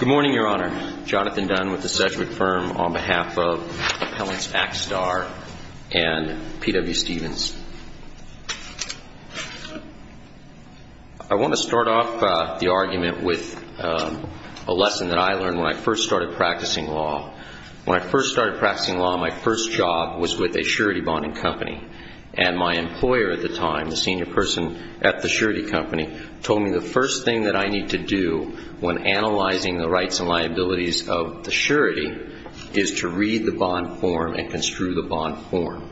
Good morning, Your Honor. Jonathan Dunn with the Sedgwick Firm on behalf of Appellants Axtar and P.W. Stephens. I want to start off the argument with a lesson that I learned when I first started practicing law. When I first started practicing law, my first job was with a surety bonding company. And my employer at the time, the senior person at the surety company, told me the first thing that I need to do when analyzing the rights and liabilities of the surety is to read the bond form and construe the bond form.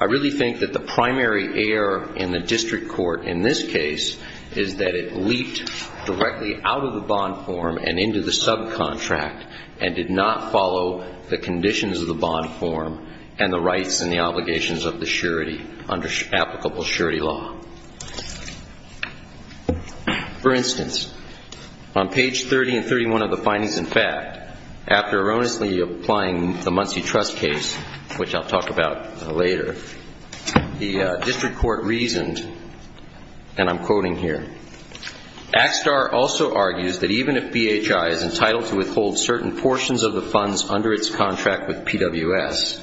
I really think that the primary error in the district court in this case is that it leaped directly out of the bond form and into the subcontract and did not follow the conditions of the bond form and the rights and the obligations of the surety under applicable surety law. For instance, on page 30 and 31 of the findings and fact, after erroneously applying the Muncie Trust case, which I'll talk about later, the district court reasoned, and I'm quoting here, Axtar also argues that even if BHI is entitled to withhold certain portions of the funds under its contract with PWS,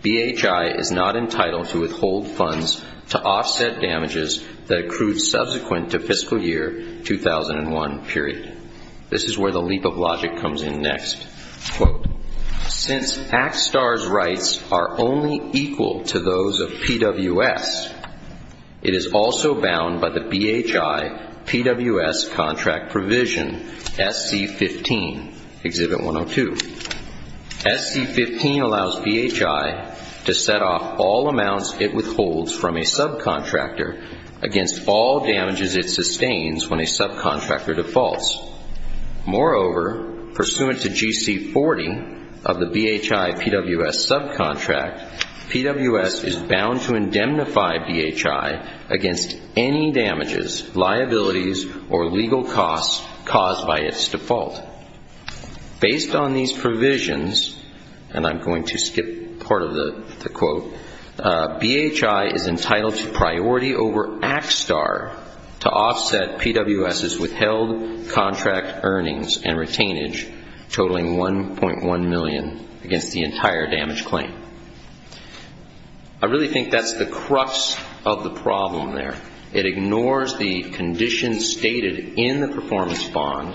BHI is not entitled to withhold funds to offset damages that accrue subsequent to fiscal year 2001, period. This is where the leap of logic comes in next. Quote, since Axtar's rights are only equal to those of PWS, it is also bound by the BHI-PWS contract provision SC15, Exhibit 102. SC15 allows BHI to set off all amounts it withholds from a subcontractor against all damages it sustains when a subcontractor defaults. Moreover, pursuant to GC40 of the BHI-PWS subcontract, PWS is bound to indemnify BHI against any damages, liabilities, or legal costs caused by its default. Based on these provisions, and I'm going to skip part of the quote, BHI is entitled to priority over Axtar to offset PWS's withheld contract earnings and retainage, totaling $1.1 million against the entire damage claim. I really think that's the crux of the problem there. It ignores the conditions stated in the performance bond.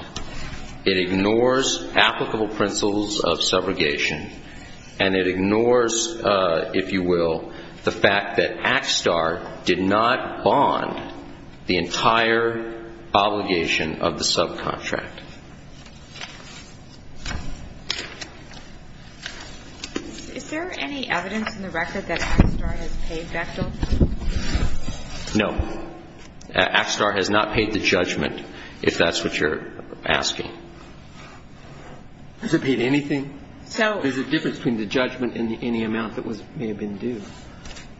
It ignores applicable principles of subrogation. And it ignores, if you will, the fact that Axtar did not bond the entire obligation of the subcontract. Is there any evidence in the record that Axtar has paid that bill? No. Axtar has not paid the judgment, if that's what you're asking. Has it paid anything? No. Is there a difference between the judgment and any amount that may have been due?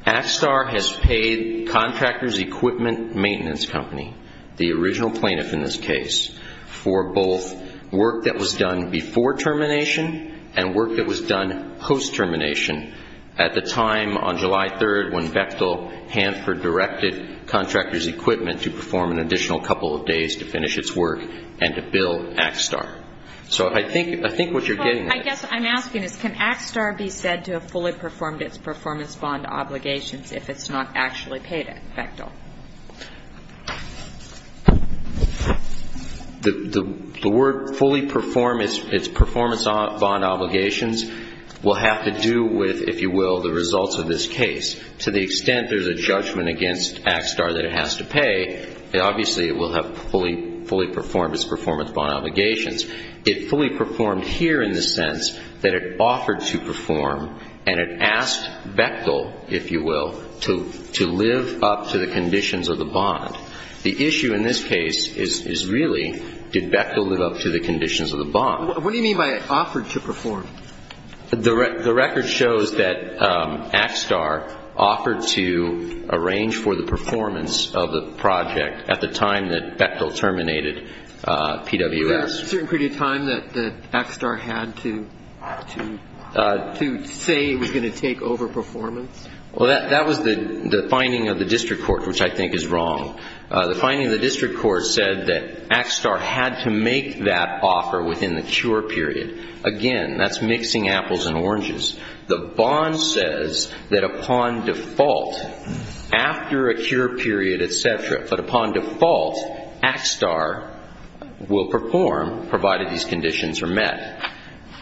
Axtar has paid Contractors Equipment Maintenance Company, the original plaintiff in this case, for both work that was done before termination and work that was done post-termination. At the time on July 3rd when Bechtel-Hanford directed Contractors Equipment to perform an additional couple of days to finish its work and to bill Axtar. So I think what you're getting at is... I guess what I'm asking is can Axtar be said to have fully performed its performance bond obligations The word fully perform its performance bond obligations will have to do with, if you will, the results of this case. To the extent there's a judgment against Axtar that it has to pay, obviously it will have fully performed its performance bond obligations. It fully performed here in the sense that it offered to perform and it asked Bechtel, if you will, to live up to the conditions of the bond. The issue in this case is really did Bechtel live up to the conditions of the bond. What do you mean by offered to perform? The record shows that Axtar offered to arrange for the performance of the project at the time that Bechtel terminated PWS. Was there a certain period of time that Axtar had to say it was going to take over performance? Well, that was the finding of the district court, which I think is wrong. The finding of the district court said that Axtar had to make that offer within the cure period. Again, that's mixing apples and oranges. The bond says that upon default, after a cure period, et cetera, but upon default, Axtar will perform provided these conditions are met.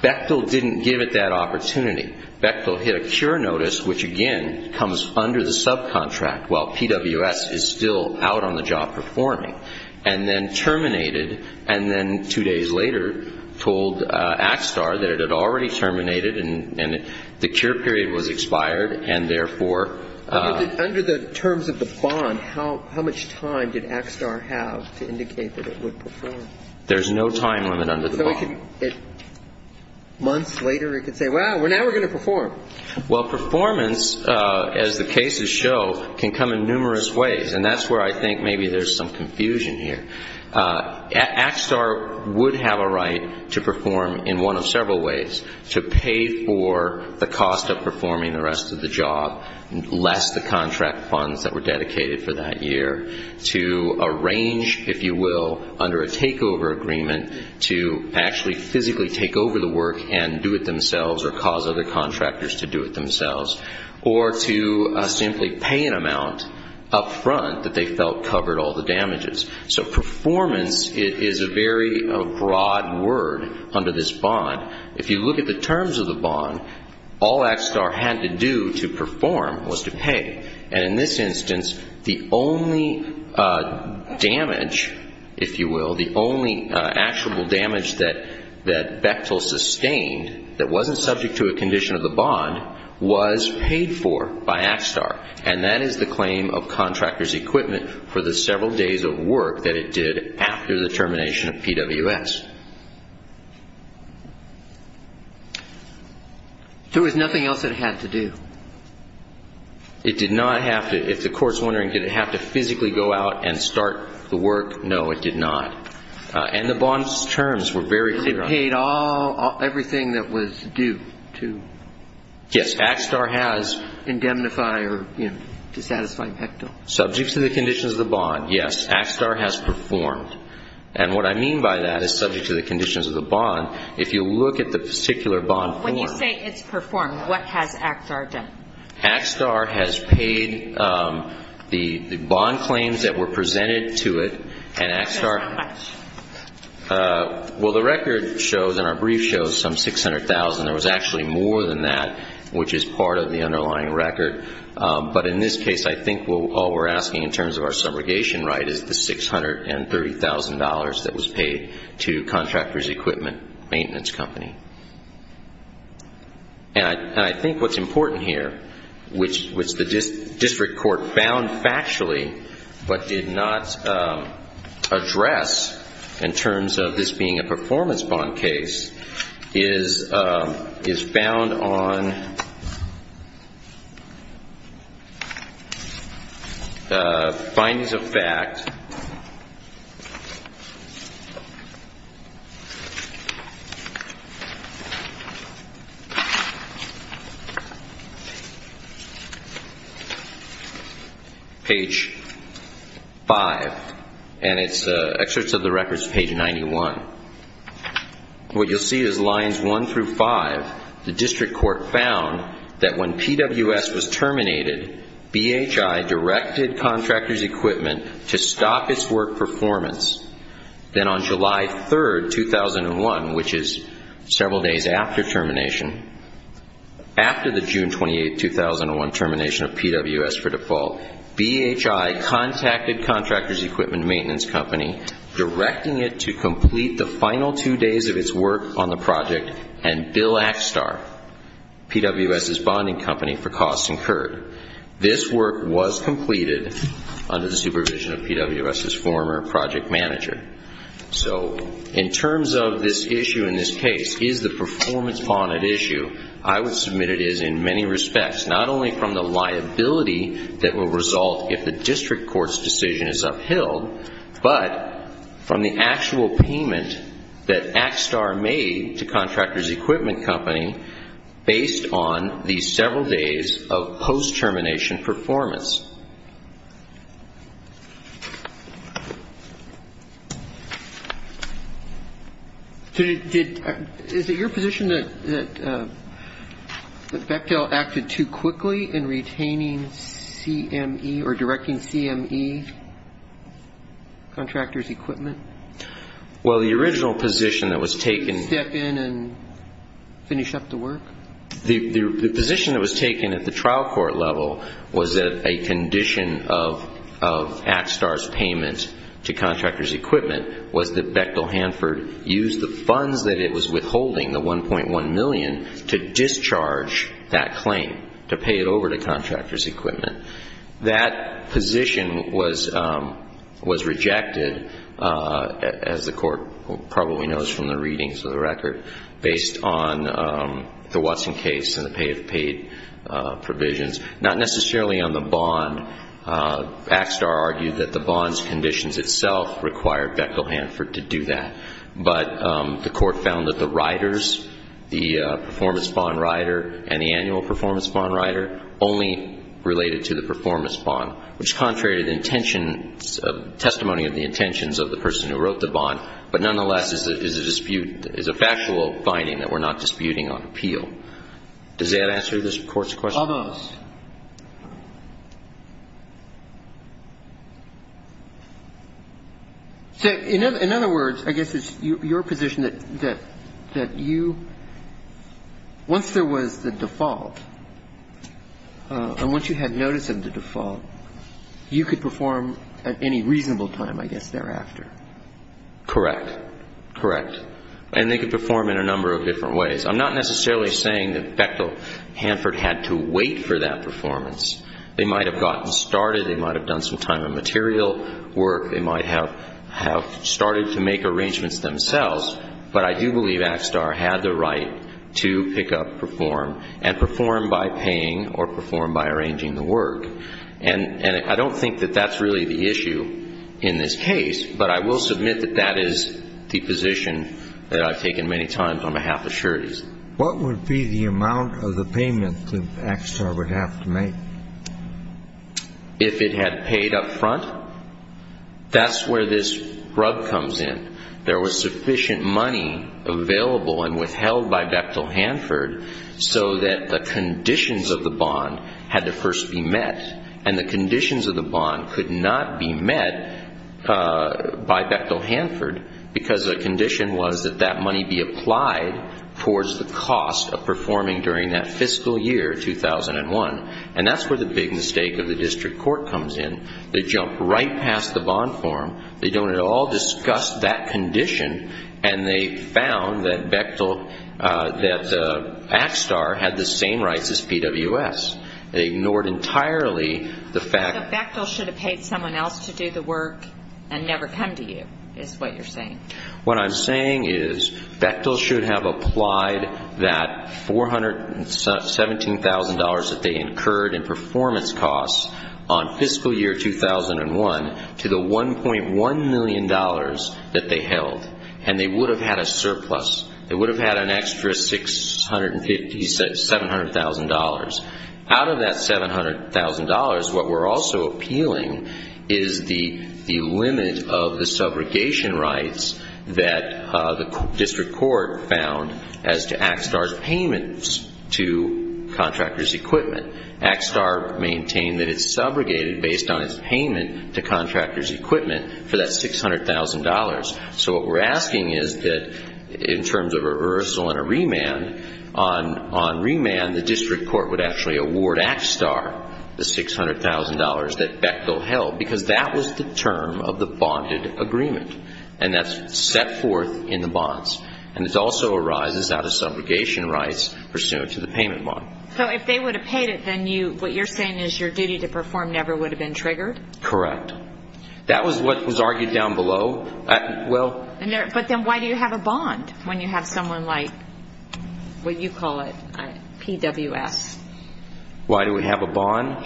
Bechtel didn't give it that opportunity. Bechtel hit a cure notice, which, again, comes under the subcontract while PWS is still out on the job performing, and then terminated and then two days later told Axtar that it had already terminated and the cure period was expired and therefore under the terms of the bond, how much time did Axtar have to indicate that it would perform? There's no time limit under the bond. Months later it could say, well, now we're going to perform. Well, performance, as the cases show, can come in numerous ways, and that's where I think maybe there's some confusion here. Axtar would have a right to perform in one of several ways, to pay for the cost of performing the rest of the job, less the contract funds that were dedicated for that year, to arrange, if you will, under a takeover agreement to actually physically take over the work and do it themselves or cause other contractors to do it themselves, or to simply pay an amount up front that they felt covered all the damages. So performance is a very broad word under this bond. If you look at the terms of the bond, all Axtar had to do to perform was to pay, and in this instance the only damage, if you will, the only actual damage that Bechtel sustained that wasn't subject to a condition of the bond was paid for by Axtar, and that is the claim of contractors' equipment for the several days of work that it did after the termination of PWS. There was nothing else it had to do? It did not have to. If the court's wondering did it have to physically go out and start the work, no, it did not. And the bond's terms were very clear. It paid everything that was due to indemnify or, you know, to satisfy Bechtel? Subject to the conditions of the bond, yes. Axtar has performed. And what I mean by that is subject to the conditions of the bond. If you look at the particular bond form. When you say it's performed, what has Axtar done? Axtar has paid the bond claims that were presented to it, and Axtar... How much? Well, the record shows and our brief shows some $600,000. There was actually more than that, which is part of the underlying record, but in this case I think all we're asking in terms of our subrogation right is the $630,000 that was paid to contractors equipment maintenance company. And I think what's important here, which the district court found factually but did not address in terms of this being a performance bond case, is found on findings of fact page 5, and it's excerpts of the records page 91. What you'll see is lines 1 through 5. The district court found that when PWS was terminated, BHI directed contractors equipment to stop its work performance. Then on July 3, 2001, which is several days after termination, after the June 28, 2001 termination of PWS for default, BHI contacted contractors equipment maintenance company, directing it to complete the final two days of its work on the project, and Bill Axtar, PWS's bonding company, for costs incurred. This work was completed under the supervision of PWS's former project manager. So in terms of this issue in this case, is the performance bond an issue? I would submit it is in many respects, not only from the liability that will result if the district court's decision is upheld, but from the actual payment that Axtar made to contractors equipment company based on the several days of post-termination performance. Is it your position that Bechtel acted too quickly in retaining CME or directing CME contractors equipment? Well, the original position that was taken at the trial court level was that a condition of Axtar's payment to contractors equipment was that Bechtel Hanford used the funds that it was withholding, the $1.1 million, to discharge that claim, to pay it over to contractors equipment. That position was rejected, as the court probably knows from the readings of the record, based on the Watson case and the pay-as-paid provisions. Not necessarily on the bond. Axtar argued that the bond's conditions itself required Bechtel Hanford to do that. But the court found that the riders, the performance bond rider and the annual performance bond rider only related to the performance bond, which is contrary to the testimony of the intentions of the person who wrote the bond, but nonetheless is a factual finding that we're not disputing on appeal. Does that answer this Court's question? All those. So in other words, I guess it's your position that you, once there was the default and once you had notice of the default, you could perform at any reasonable time, I guess, thereafter. Correct. Correct. And they could perform in a number of different ways. I'm not necessarily saying that Bechtel Hanford had to wait for that performance. They might have gotten started. They might have done some time of material work. They might have started to make arrangements themselves. But I do believe Axtar had the right to pick up, perform, and perform by paying or perform by arranging the work. And I don't think that that's really the issue in this case, but I will submit that that is the position that I've taken many times on behalf of sureties. What would be the amount of the payment that Axtar would have to make? If it had paid up front, that's where this rub comes in. There was sufficient money available and withheld by Bechtel Hanford so that the conditions of the bond had to first be met. And the conditions of the bond could not be met by Bechtel Hanford because the condition was that that money be applied towards the cost of performing during that fiscal year, 2001. And that's where the big mistake of the district court comes in. They jump right past the bond form. They don't at all discuss that condition. And they found that Bechtel, that Axtar had the same rights as PWS. They ignored entirely the fact that Bechtel should have paid someone else to do the work and never come to you is what you're saying. What I'm saying is Bechtel should have applied that $417,000 that they incurred in performance costs on fiscal year 2001 to the $1.1 million that they held. And they would have had a surplus. They would have had an extra $750,000, $700,000. Out of that $700,000, what we're also appealing is the limit of the subrogation rights that the district court found as to Axtar's payments to contractors' equipment. Axtar maintained that it subrogated based on its payment to contractors' equipment for that $600,000. So what we're asking is that in terms of a reversal and a remand, on remand the district court would actually award Axtar the $600,000 that Bechtel held because that was the term of the bonded agreement. And that's set forth in the bonds. And it also arises out of subrogation rights pursuant to the payment model. So if they would have paid it, then what you're saying is your duty to perform never would have been triggered? Correct. That was what was argued down below. But then why do you have a bond when you have someone like what you call it, PWS? Why do we have a bond?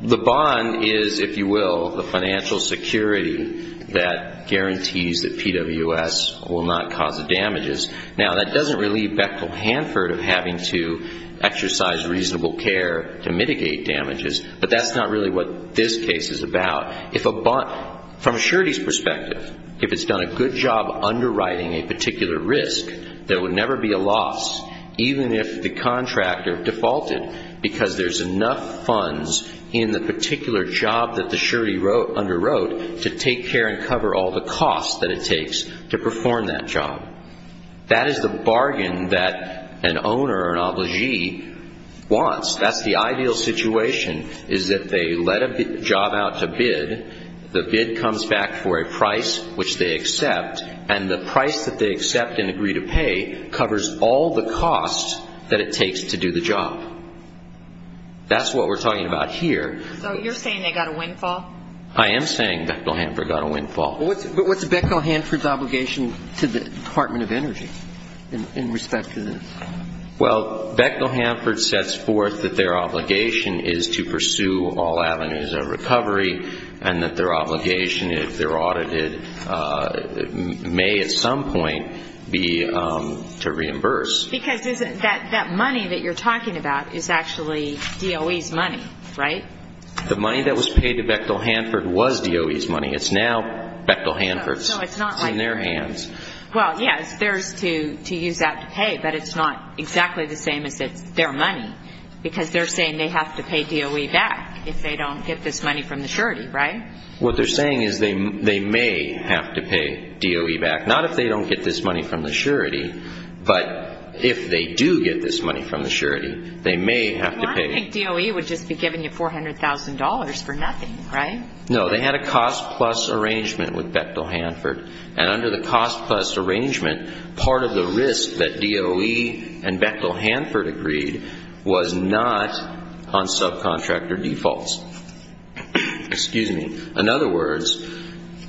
The bond is, if you will, the financial security that guarantees that PWS will not cause the damages. Now, that doesn't relieve Bechtel Hanford of having to exercise reasonable care to mitigate damages. But that's not really what this case is about. From a surety's perspective, if it's done a good job underwriting a particular risk, there would never be a loss even if the contractor defaulted because there's enough funds in the particular job that the surety underwrote to take care and cover all the costs that it takes to perform that job. That is the bargain that an owner or an obligee wants. That's the ideal situation is that they let a job out to bid. The bid comes back for a price which they accept, and the price that they accept and agree to pay covers all the costs that it takes to do the job. That's what we're talking about here. So you're saying they got a windfall? I am saying Bechtel Hanford got a windfall. But what's Bechtel Hanford's obligation to the Department of Energy in respect to this? Well, Bechtel Hanford sets forth that their obligation is to pursue all avenues of recovery and that their obligation, if they're audited, may at some point be to reimburse. Because that money that you're talking about is actually DOE's money, right? The money that was paid to Bechtel Hanford was DOE's money. It's now Bechtel Hanford's. No, it's not like that. It's in their hands. Well, yes, it's theirs to use that to pay, but it's not exactly the same as it's their money because they're saying they have to pay DOE back if they don't get this money from the surety, right? What they're saying is they may have to pay DOE back, not if they don't get this money from the surety, but if they do get this money from the surety, they may have to pay. Well, I don't think DOE would just be giving you $400,000 for nothing, right? No, they had a cost-plus arrangement with Bechtel Hanford, and under the cost-plus arrangement, part of the risk that DOE and Bechtel Hanford agreed was not on subcontractor defaults. In other words,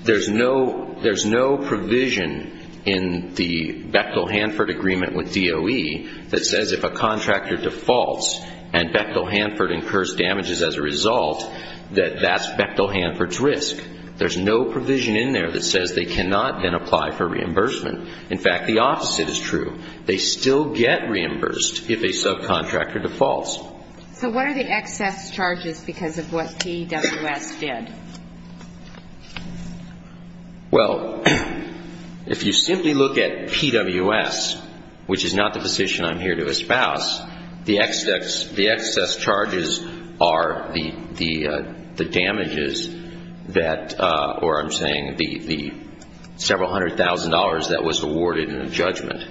there's no provision in the Bechtel Hanford agreement with DOE that says if a contractor defaults and Bechtel Hanford incurs damages as a result, that that's Bechtel Hanford's risk. There's no provision in there that says they cannot then apply for reimbursement. In fact, the opposite is true. They still get reimbursed if a subcontractor defaults. So what are the excess charges because of what PWS did? Well, if you simply look at PWS, which is not the position I'm here to espouse, the excess charges are the damages that, or I'm saying the several hundred thousand dollars that was awarded in a judgment.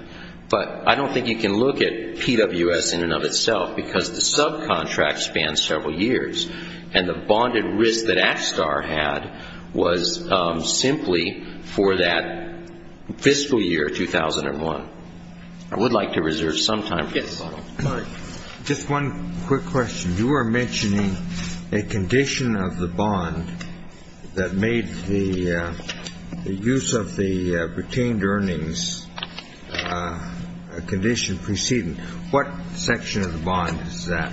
But I don't think you can look at PWS in and of itself because the subcontract spans several years, and the bonded risk that ActSTAR had was simply for that fiscal year 2001. I would like to reserve some time for this. Just one quick question. You were mentioning a condition of the bond that made the use of the retained earnings a condition preceding. What section of the bond is that?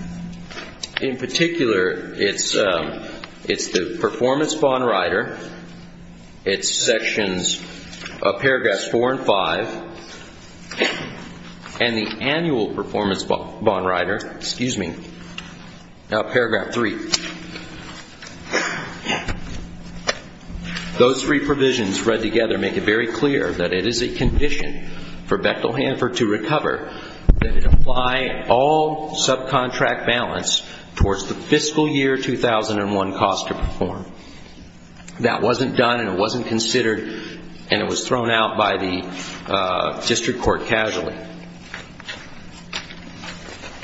In particular, it's the performance bond rider. It's sections, paragraphs four and five, and the annual performance bond rider, excuse me, now paragraph three. Those three provisions read together make it very clear that it is a condition for Bechtel Hanford to recover that it apply all subcontract balance towards the fiscal year 2001 cost to perform. That wasn't done, and it wasn't considered, and it was thrown out by the district court casually.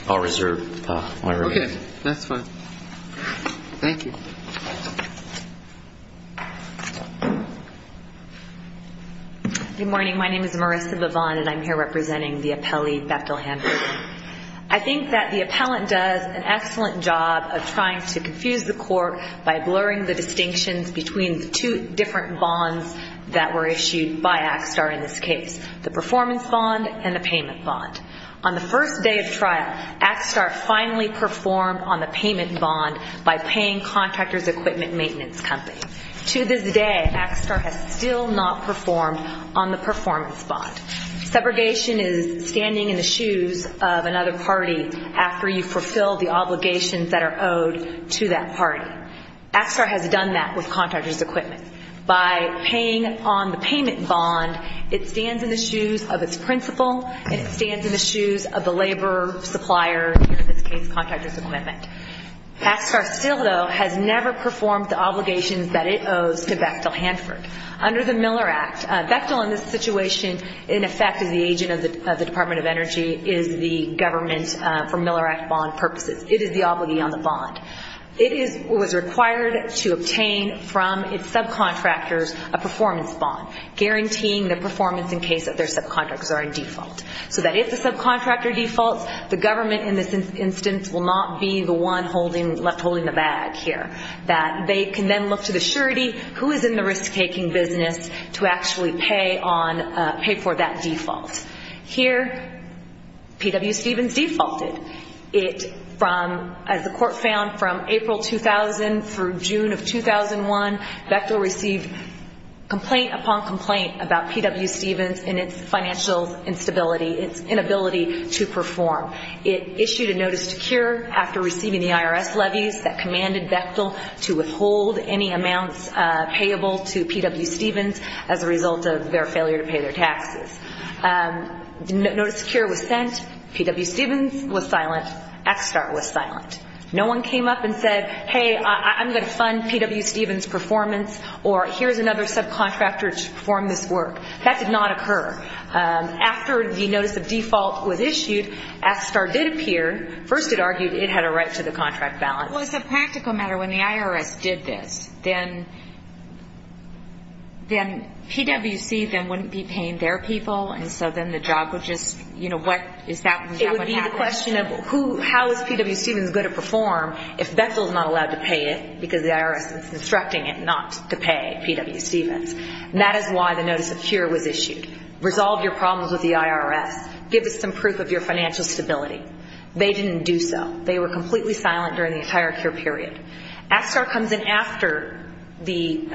I'll reserve my remaining time. Okay, that's fine. Thank you. Good morning. My name is Marissa Vavon, and I'm here representing the appellee Bechtel Hanford. I think that the appellant does an excellent job of trying to confuse the court by blurring the distinctions between the two different bonds that were issued by ActSTAR in this case, the performance bond and the payment bond. On the first day of trial, ActSTAR finally performed on the payment bond by paying contractors' equipment maintenance company. To this day, ActSTAR has still not performed on the performance bond. Segregation is standing in the shoes of another party after you fulfill the obligations that are owed to that party. ActSTAR has done that with contractors' equipment. By paying on the payment bond, it stands in the shoes of its principal, and it stands in the shoes of the labor supplier, in this case, contractors' equipment. ActSTAR still, though, has never performed the obligations that it owes to Bechtel Hanford. Under the Miller Act, Bechtel in this situation, in effect, is the agent of the Department of Energy, is the government for Miller Act bond purposes. It is the obligee on the bond. It was required to obtain from its subcontractors a performance bond, guaranteeing the performance in case that their subcontractors are in default, so that if the subcontractor defaults, the government in this instance will not be the one left holding the bag here, that they can then look to the surety who is in the risk-taking business to actually pay for that default. Here, P.W. Stevens defaulted. As the court found, from April 2000 through June of 2001, Bechtel received complaint upon complaint about P.W. Stevens and its financial instability, its inability to perform. It issued a notice to CURE after receiving the IRS levies that commanded Bechtel to withhold any amounts payable to P.W. Stevens as a result of their failure to pay their taxes. Notice to CURE was sent. P.W. Stevens was silent. ActSTAR was silent. No one came up and said, hey, I'm going to fund P.W. Stevens' performance, or here's another subcontractor to perform this work. That did not occur. After the notice of default was issued, ActSTAR did appear. First it argued it had a right to the contract balance. Well, as a practical matter, when the IRS did this, then P.W. Stevens wouldn't be paying their people, and so then the job would just, you know, what is that going to happen? It would be the question of how is P.W. Stevens going to perform if Bechtel is not allowed to pay it because the IRS is instructing it not to pay P.W. Stevens. That is why the notice of CURE was issued. Resolve your problems with the IRS. Give us some proof of your financial stability. They didn't do so. They were completely silent during the entire CURE period. ActSTAR comes in after the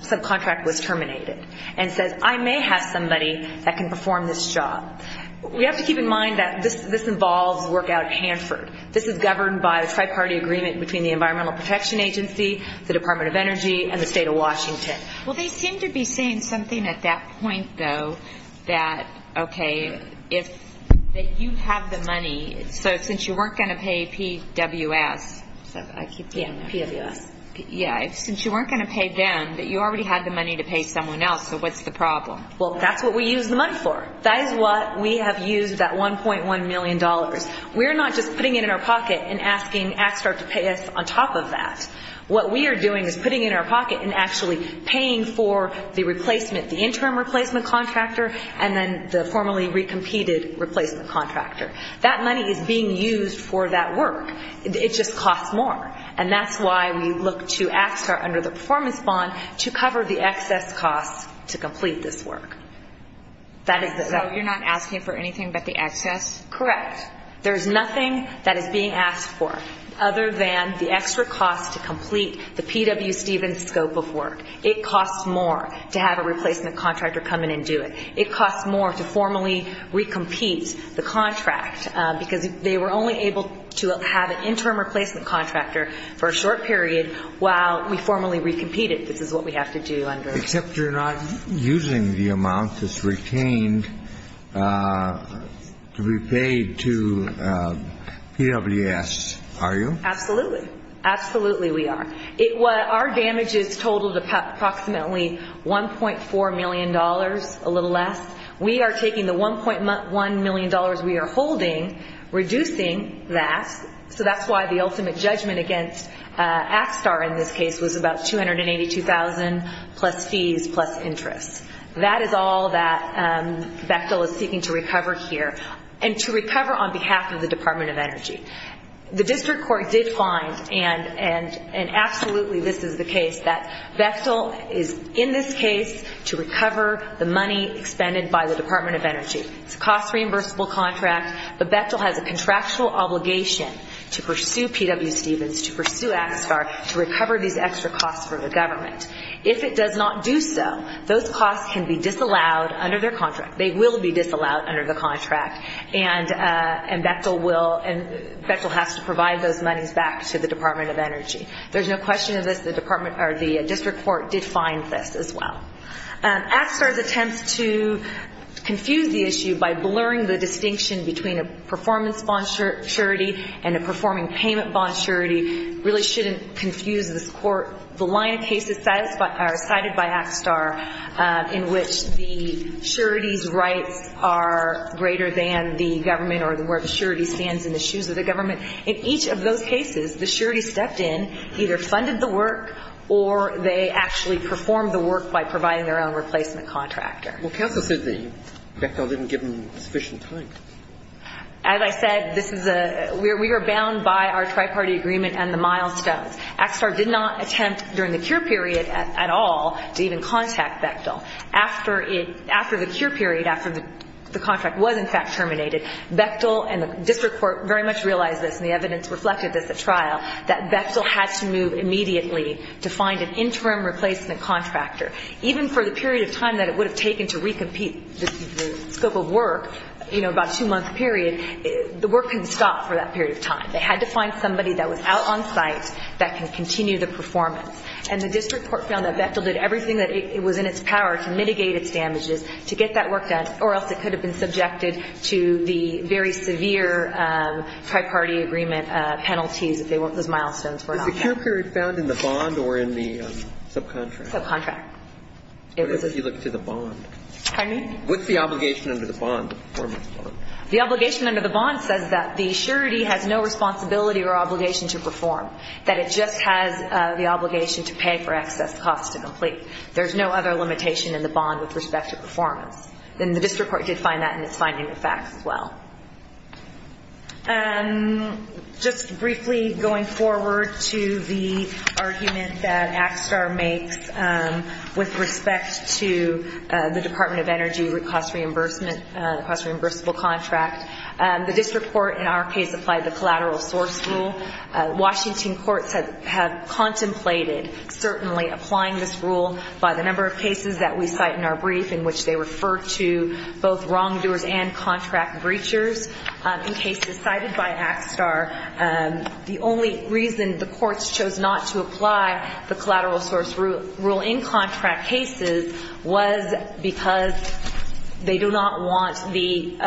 subcontract was terminated and says, I may have somebody that can perform this job. We have to keep in mind that this involves work out at Hanford. This is governed by a tri-party agreement between the Environmental Protection Agency, the Department of Energy, and the State of Washington. Well, they seem to be saying something at that point, though, that, okay, if you have the money, so since you weren't going to pay PWS, since you weren't going to pay them, that you already had the money to pay someone else, so what's the problem? Well, that's what we use the money for. That is what we have used that $1.1 million. We are not just putting it in our pocket and asking ActSTAR to pay us on top of that. What we are doing is putting it in our pocket and actually paying for the replacement, the interim replacement contractor, and then the formerly recompeted replacement contractor. That money is being used for that work. It just costs more, and that's why we look to ActSTAR under the performance bond to cover the excess costs to complete this work. So you're not asking for anything but the excess? Correct. There's nothing that is being asked for other than the extra cost to complete the P.W. Stevens scope of work. It costs more to have a replacement contractor come in and do it. It costs more to formally recompete the contract because they were only able to have an interim replacement contractor for a short period while we formally recompeted. This is what we have to do under. Except you're not using the amount that's retained to be paid to PWS, are you? Absolutely. Absolutely we are. Our damages totaled approximately $1.4 million, a little less. We are taking the $1.1 million we are holding, reducing that. So that's why the ultimate judgment against ActSTAR in this case was about $282,000 plus fees plus interest. That is all that Bechtel is seeking to recover here and to recover on behalf of the Department of Energy. The district court did find, and absolutely this is the case, that Bechtel is in this case to recover the money expended by the Department of Energy. It's a cost-reimbursable contract, but Bechtel has a contractual obligation to pursue P.W. Stevens, to pursue ActSTAR, to recover these extra costs for the government. If it does not do so, those costs can be disallowed under their contract. They will be disallowed under the contract, and Bechtel will, and Bechtel has to provide those monies back to the Department of Energy. There's no question of this. The district court did find this as well. ActSTAR's attempts to confuse the issue by blurring the distinction between a performance bond surety and a performing payment bond surety really shouldn't confuse this court. The line of cases cited by ActSTAR in which the surety's rights are greater than the government or where the surety stands in the shoes of the government, in each of those cases the surety stepped in, either funded the work or they actually performed the work by providing their own replacement contractor. Well, counsel said that Bechtel didn't give them sufficient time. As I said, this is a – we are bound by our triparty agreement and the milestones. ActSTAR did not attempt during the cure period at all to even contact Bechtel. After it – after the cure period, after the contract was in fact terminated, Bechtel and the district court very much realized this, and the evidence reflected this at trial, that Bechtel had to move immediately to find an interim replacement contractor. Even for the period of time that it would have taken to recompete the scope of work, you know, about a two-month period, the work couldn't stop for that period of time. They had to find somebody that was out on site that can continue the performance. And the district court found that Bechtel did everything that it was in its power to mitigate its damages to get that work done or else it could have been subjected to the very severe triparty agreement penalties if those milestones were not met. Was the cure period found in the bond or in the subcontract? Subcontract. What is it if you look to the bond? Pardon me? What's the obligation under the bond, the performance bond? The obligation under the bond says that the surety has no responsibility or obligation to perform, that it just has the obligation to pay for excess costs to complete. There's no other limitation in the bond with respect to performance. And the district court did find that in its finding of facts as well. Just briefly going forward to the argument that ACSTAR makes with respect to the Department of Energy cost reimbursement, cost reimbursable contract, the district court in our case applied the collateral source rule. Washington courts have contemplated certainly applying this rule by the number of cases that we cite in our brief in which they refer to both wrongdoers and contract breachers. In cases cited by ACSTAR, the only reason the courts chose not to apply the collateral source rule in contract cases was because they do not want in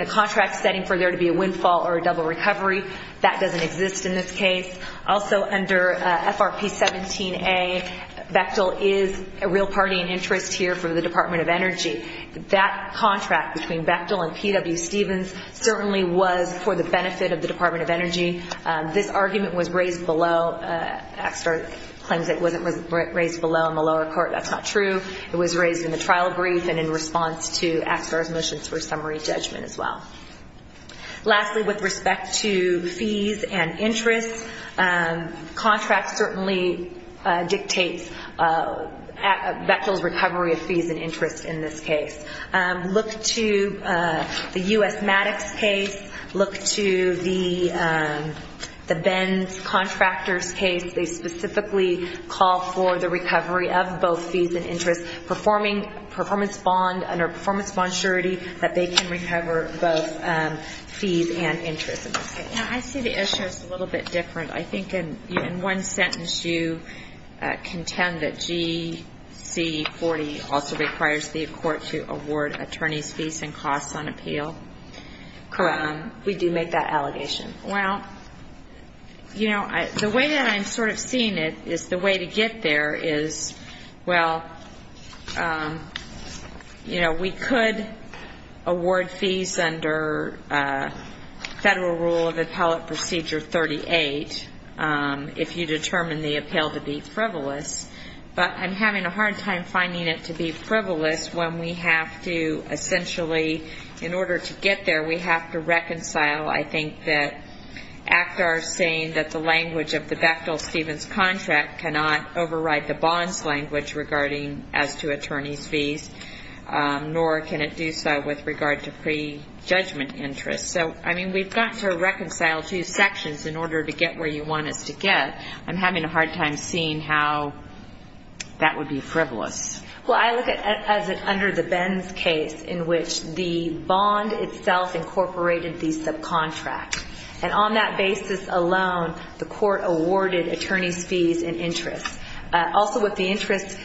a contract setting for there to be a windfall or a double recovery. That doesn't exist in this case. Also, under FRP 17A, Bechtel is a real party in interest here for the Department of Energy. That contract between Bechtel and P.W. Stevens certainly was for the benefit of the Department of Energy. This argument was raised below. ACSTAR claims it wasn't raised below in the lower court. That's not true. It was raised in the trial brief and in response to ACSTAR's motions for summary judgment as well. Lastly, with respect to fees and interest, contracts certainly dictate Bechtel's recovery of fees and interest in this case. Look to the U.S. Maddox case. Look to the Benz Contractors case. They specifically call for the recovery of both fees and interest, under performance bond surety, that they can recover both fees and interest in this case. Now, I see the issue as a little bit different. I think in one sentence you contend that GC40 also requires the court to award attorneys' fees and costs on appeal. Correct. We do make that allegation. Well, you know, the way that I'm sort of seeing it is the way to get there is, well, you know, we could award fees under Federal Rule of Appellate Procedure 38 if you determine the appeal to be frivolous, but I'm having a hard time finding it to be frivolous when we have to essentially, in order to get there, we have to reconcile, I think, that ACTR saying that the language of the Bechtel-Stevens contract cannot override the bonds language regarding as to attorneys' fees, nor can it do so with regard to prejudgment interest. So, I mean, we've got to reconcile two sections in order to get where you want us to get. I'm having a hard time seeing how that would be frivolous. Well, I look at it as under the Benz case in which the bond itself incorporated the subcontract, and on that basis alone the court awarded attorneys' fees and interest. Also with the interest,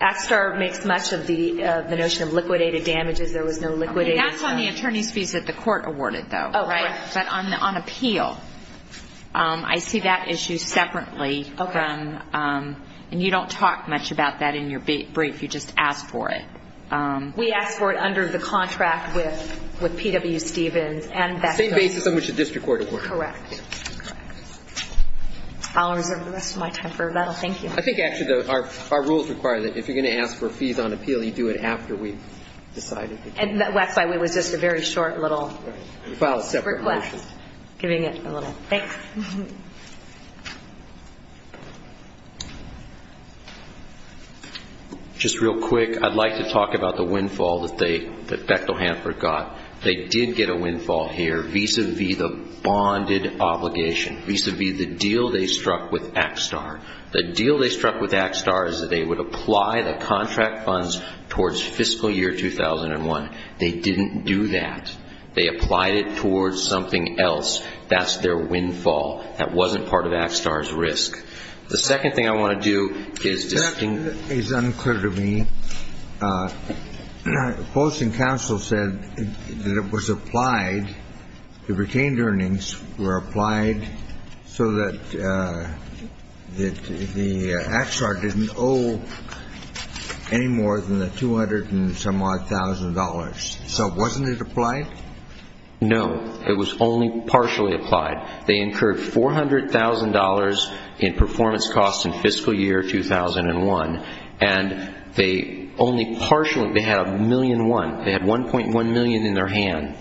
ACTR makes much of the notion of liquidated damages. There was no liquidated. That's on the attorneys' fees that the court awarded, though, right? Oh, correct. But on appeal, I see that issue separately. Okay. And you don't talk much about that in your brief. You just ask for it. We ask for it under the contract with P.W. Stevens and Bechtel-Stevens. The same basis on which the district court awarded. Correct. I'll reserve the rest of my time for that. Thank you. I think, actually, our rules require that if you're going to ask for fees on appeal, you do it after we've decided. And that's why it was just a very short little request. We filed a separate motion. Just real quick, I'd like to talk about the windfall that Bechtel-Hanford got. They did get a windfall here vis-à-vis the bonded obligation, vis-à-vis the deal they struck with ACTR. The deal they struck with ACTR is that they would apply the contract funds towards fiscal year 2001. They didn't do that. They applied it towards something else. That's their windfall. That wasn't part of ACTR's risk. The second thing I want to do is just to see. That is unclear to me. Post and counsel said that it was applied, the retained earnings were applied so that the ACTR didn't owe any more than the 200 and some odd thousand dollars. So wasn't it applied? No. It was only partially applied. They incurred $400,000 in performance costs in fiscal year 2001. And they only partially, they had $1.1 million in their hand.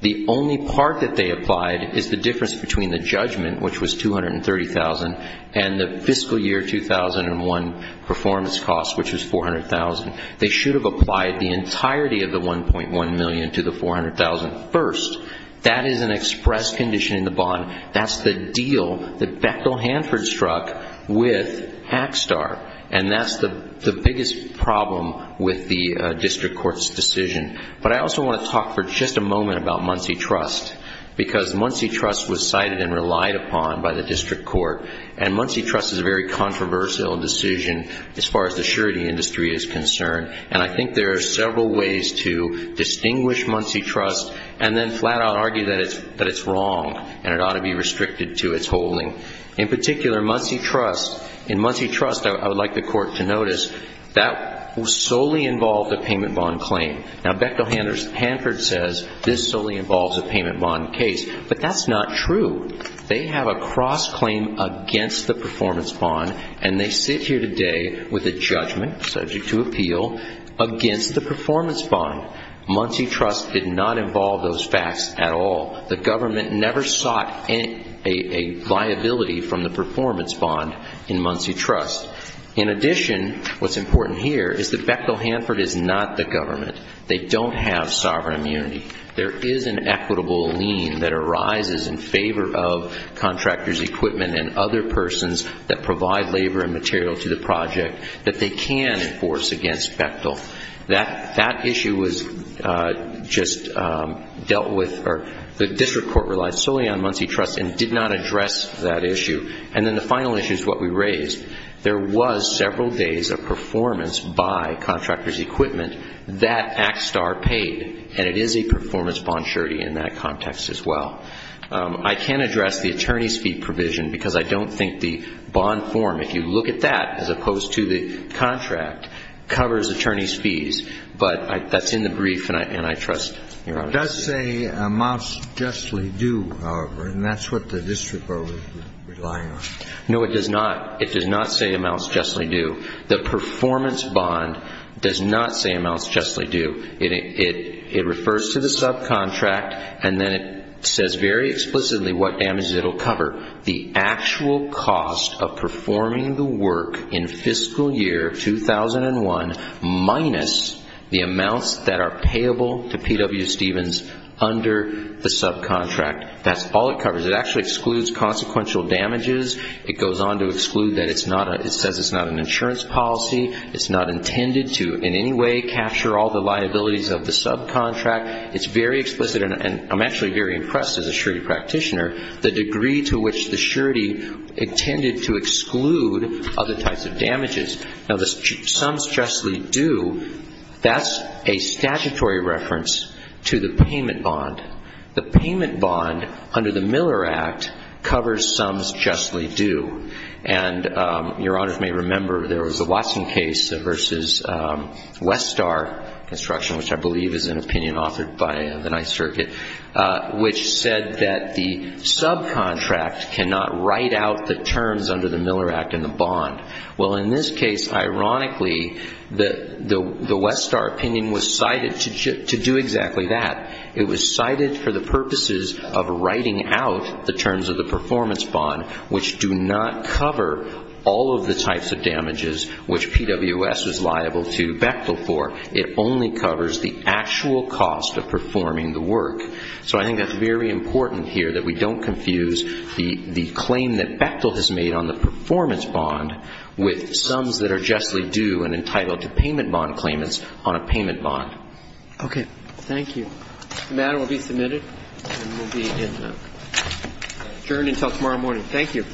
The only part that they applied is the difference between the judgment, which was $230,000, and the fiscal year 2001 performance cost, which was $400,000. They should have applied the entirety of the $1.1 million to the $400,000 first. That is an express condition in the bond. That's the deal that Beckle Hanford struck with ACTR. And that's the biggest problem with the district court's decision. But I also want to talk for just a moment about Muncie Trust because Muncie Trust was cited and relied upon by the district court. And Muncie Trust is a very controversial decision as far as the surety industry is concerned. And I think there are several ways to distinguish Muncie Trust and then flat out argue that it's wrong and it ought to be restricted to its holding. In particular, Muncie Trust, in Muncie Trust, I would like the court to notice, that solely involved a payment bond claim. Now, Beckle Hanford says this solely involves a payment bond case. But that's not true. They have a cross-claim against the performance bond, and they sit here today with a judgment, subject to appeal, against the performance bond. Muncie Trust did not involve those facts at all. The government never sought a viability from the performance bond in Muncie Trust. In addition, what's important here is that Beckle Hanford is not the government. They don't have sovereign immunity. There is an equitable lien that arises in favor of contractors' equipment and other persons that provide labor and material to the project that they can enforce against Beckle. That issue was just dealt with, or the district court relied solely on Muncie Trust and did not address that issue. And then the final issue is what we raised. There was several days of performance by contractors' equipment that ActSTAR paid, and it is a performance bond surety in that context as well. I can't address the attorney's fee provision because I don't think the bond form, if you look at that, as opposed to the contract, covers attorney's fees. But that's in the brief, and I trust your honor. It does say amounts justly due, however, and that's what the district court was relying on. No, it does not. It does not say amounts justly due. The performance bond does not say amounts justly due. It refers to the subcontract, and then it says very explicitly what damages it will cover. The actual cost of performing the work in fiscal year 2001 minus the amounts that are payable to P.W. Stevens under the subcontract. That's all it covers. It actually excludes consequential damages. It goes on to exclude that it says it's not an insurance policy. It's not intended to in any way capture all the liabilities of the subcontract. It's very explicit, and I'm actually very impressed as a surety practitioner, the degree to which the surety intended to exclude other types of damages. Now, the sums justly due, that's a statutory reference to the payment bond. The payment bond under the Miller Act covers sums justly due, and Your Honors may remember there was a Watson case versus Westar Construction, which I believe is an opinion authored by the Ninth Circuit, which said that the subcontract cannot write out the terms under the Miller Act in the bond. Well, in this case, ironically, the Westar opinion was cited to do exactly that. It was cited for the purposes of writing out the terms of the performance bond, which do not cover all of the types of damages which PWS is liable to Bechtel for. It only covers the actual cost of performing the work. So I think that's very important here that we don't confuse the claim that Bechtel has made on the performance bond with sums that are justly due and entitled to payment bond claimants on a payment bond. Okay. Thank you. The matter will be submitted and will be adjourned until tomorrow morning. Thank you.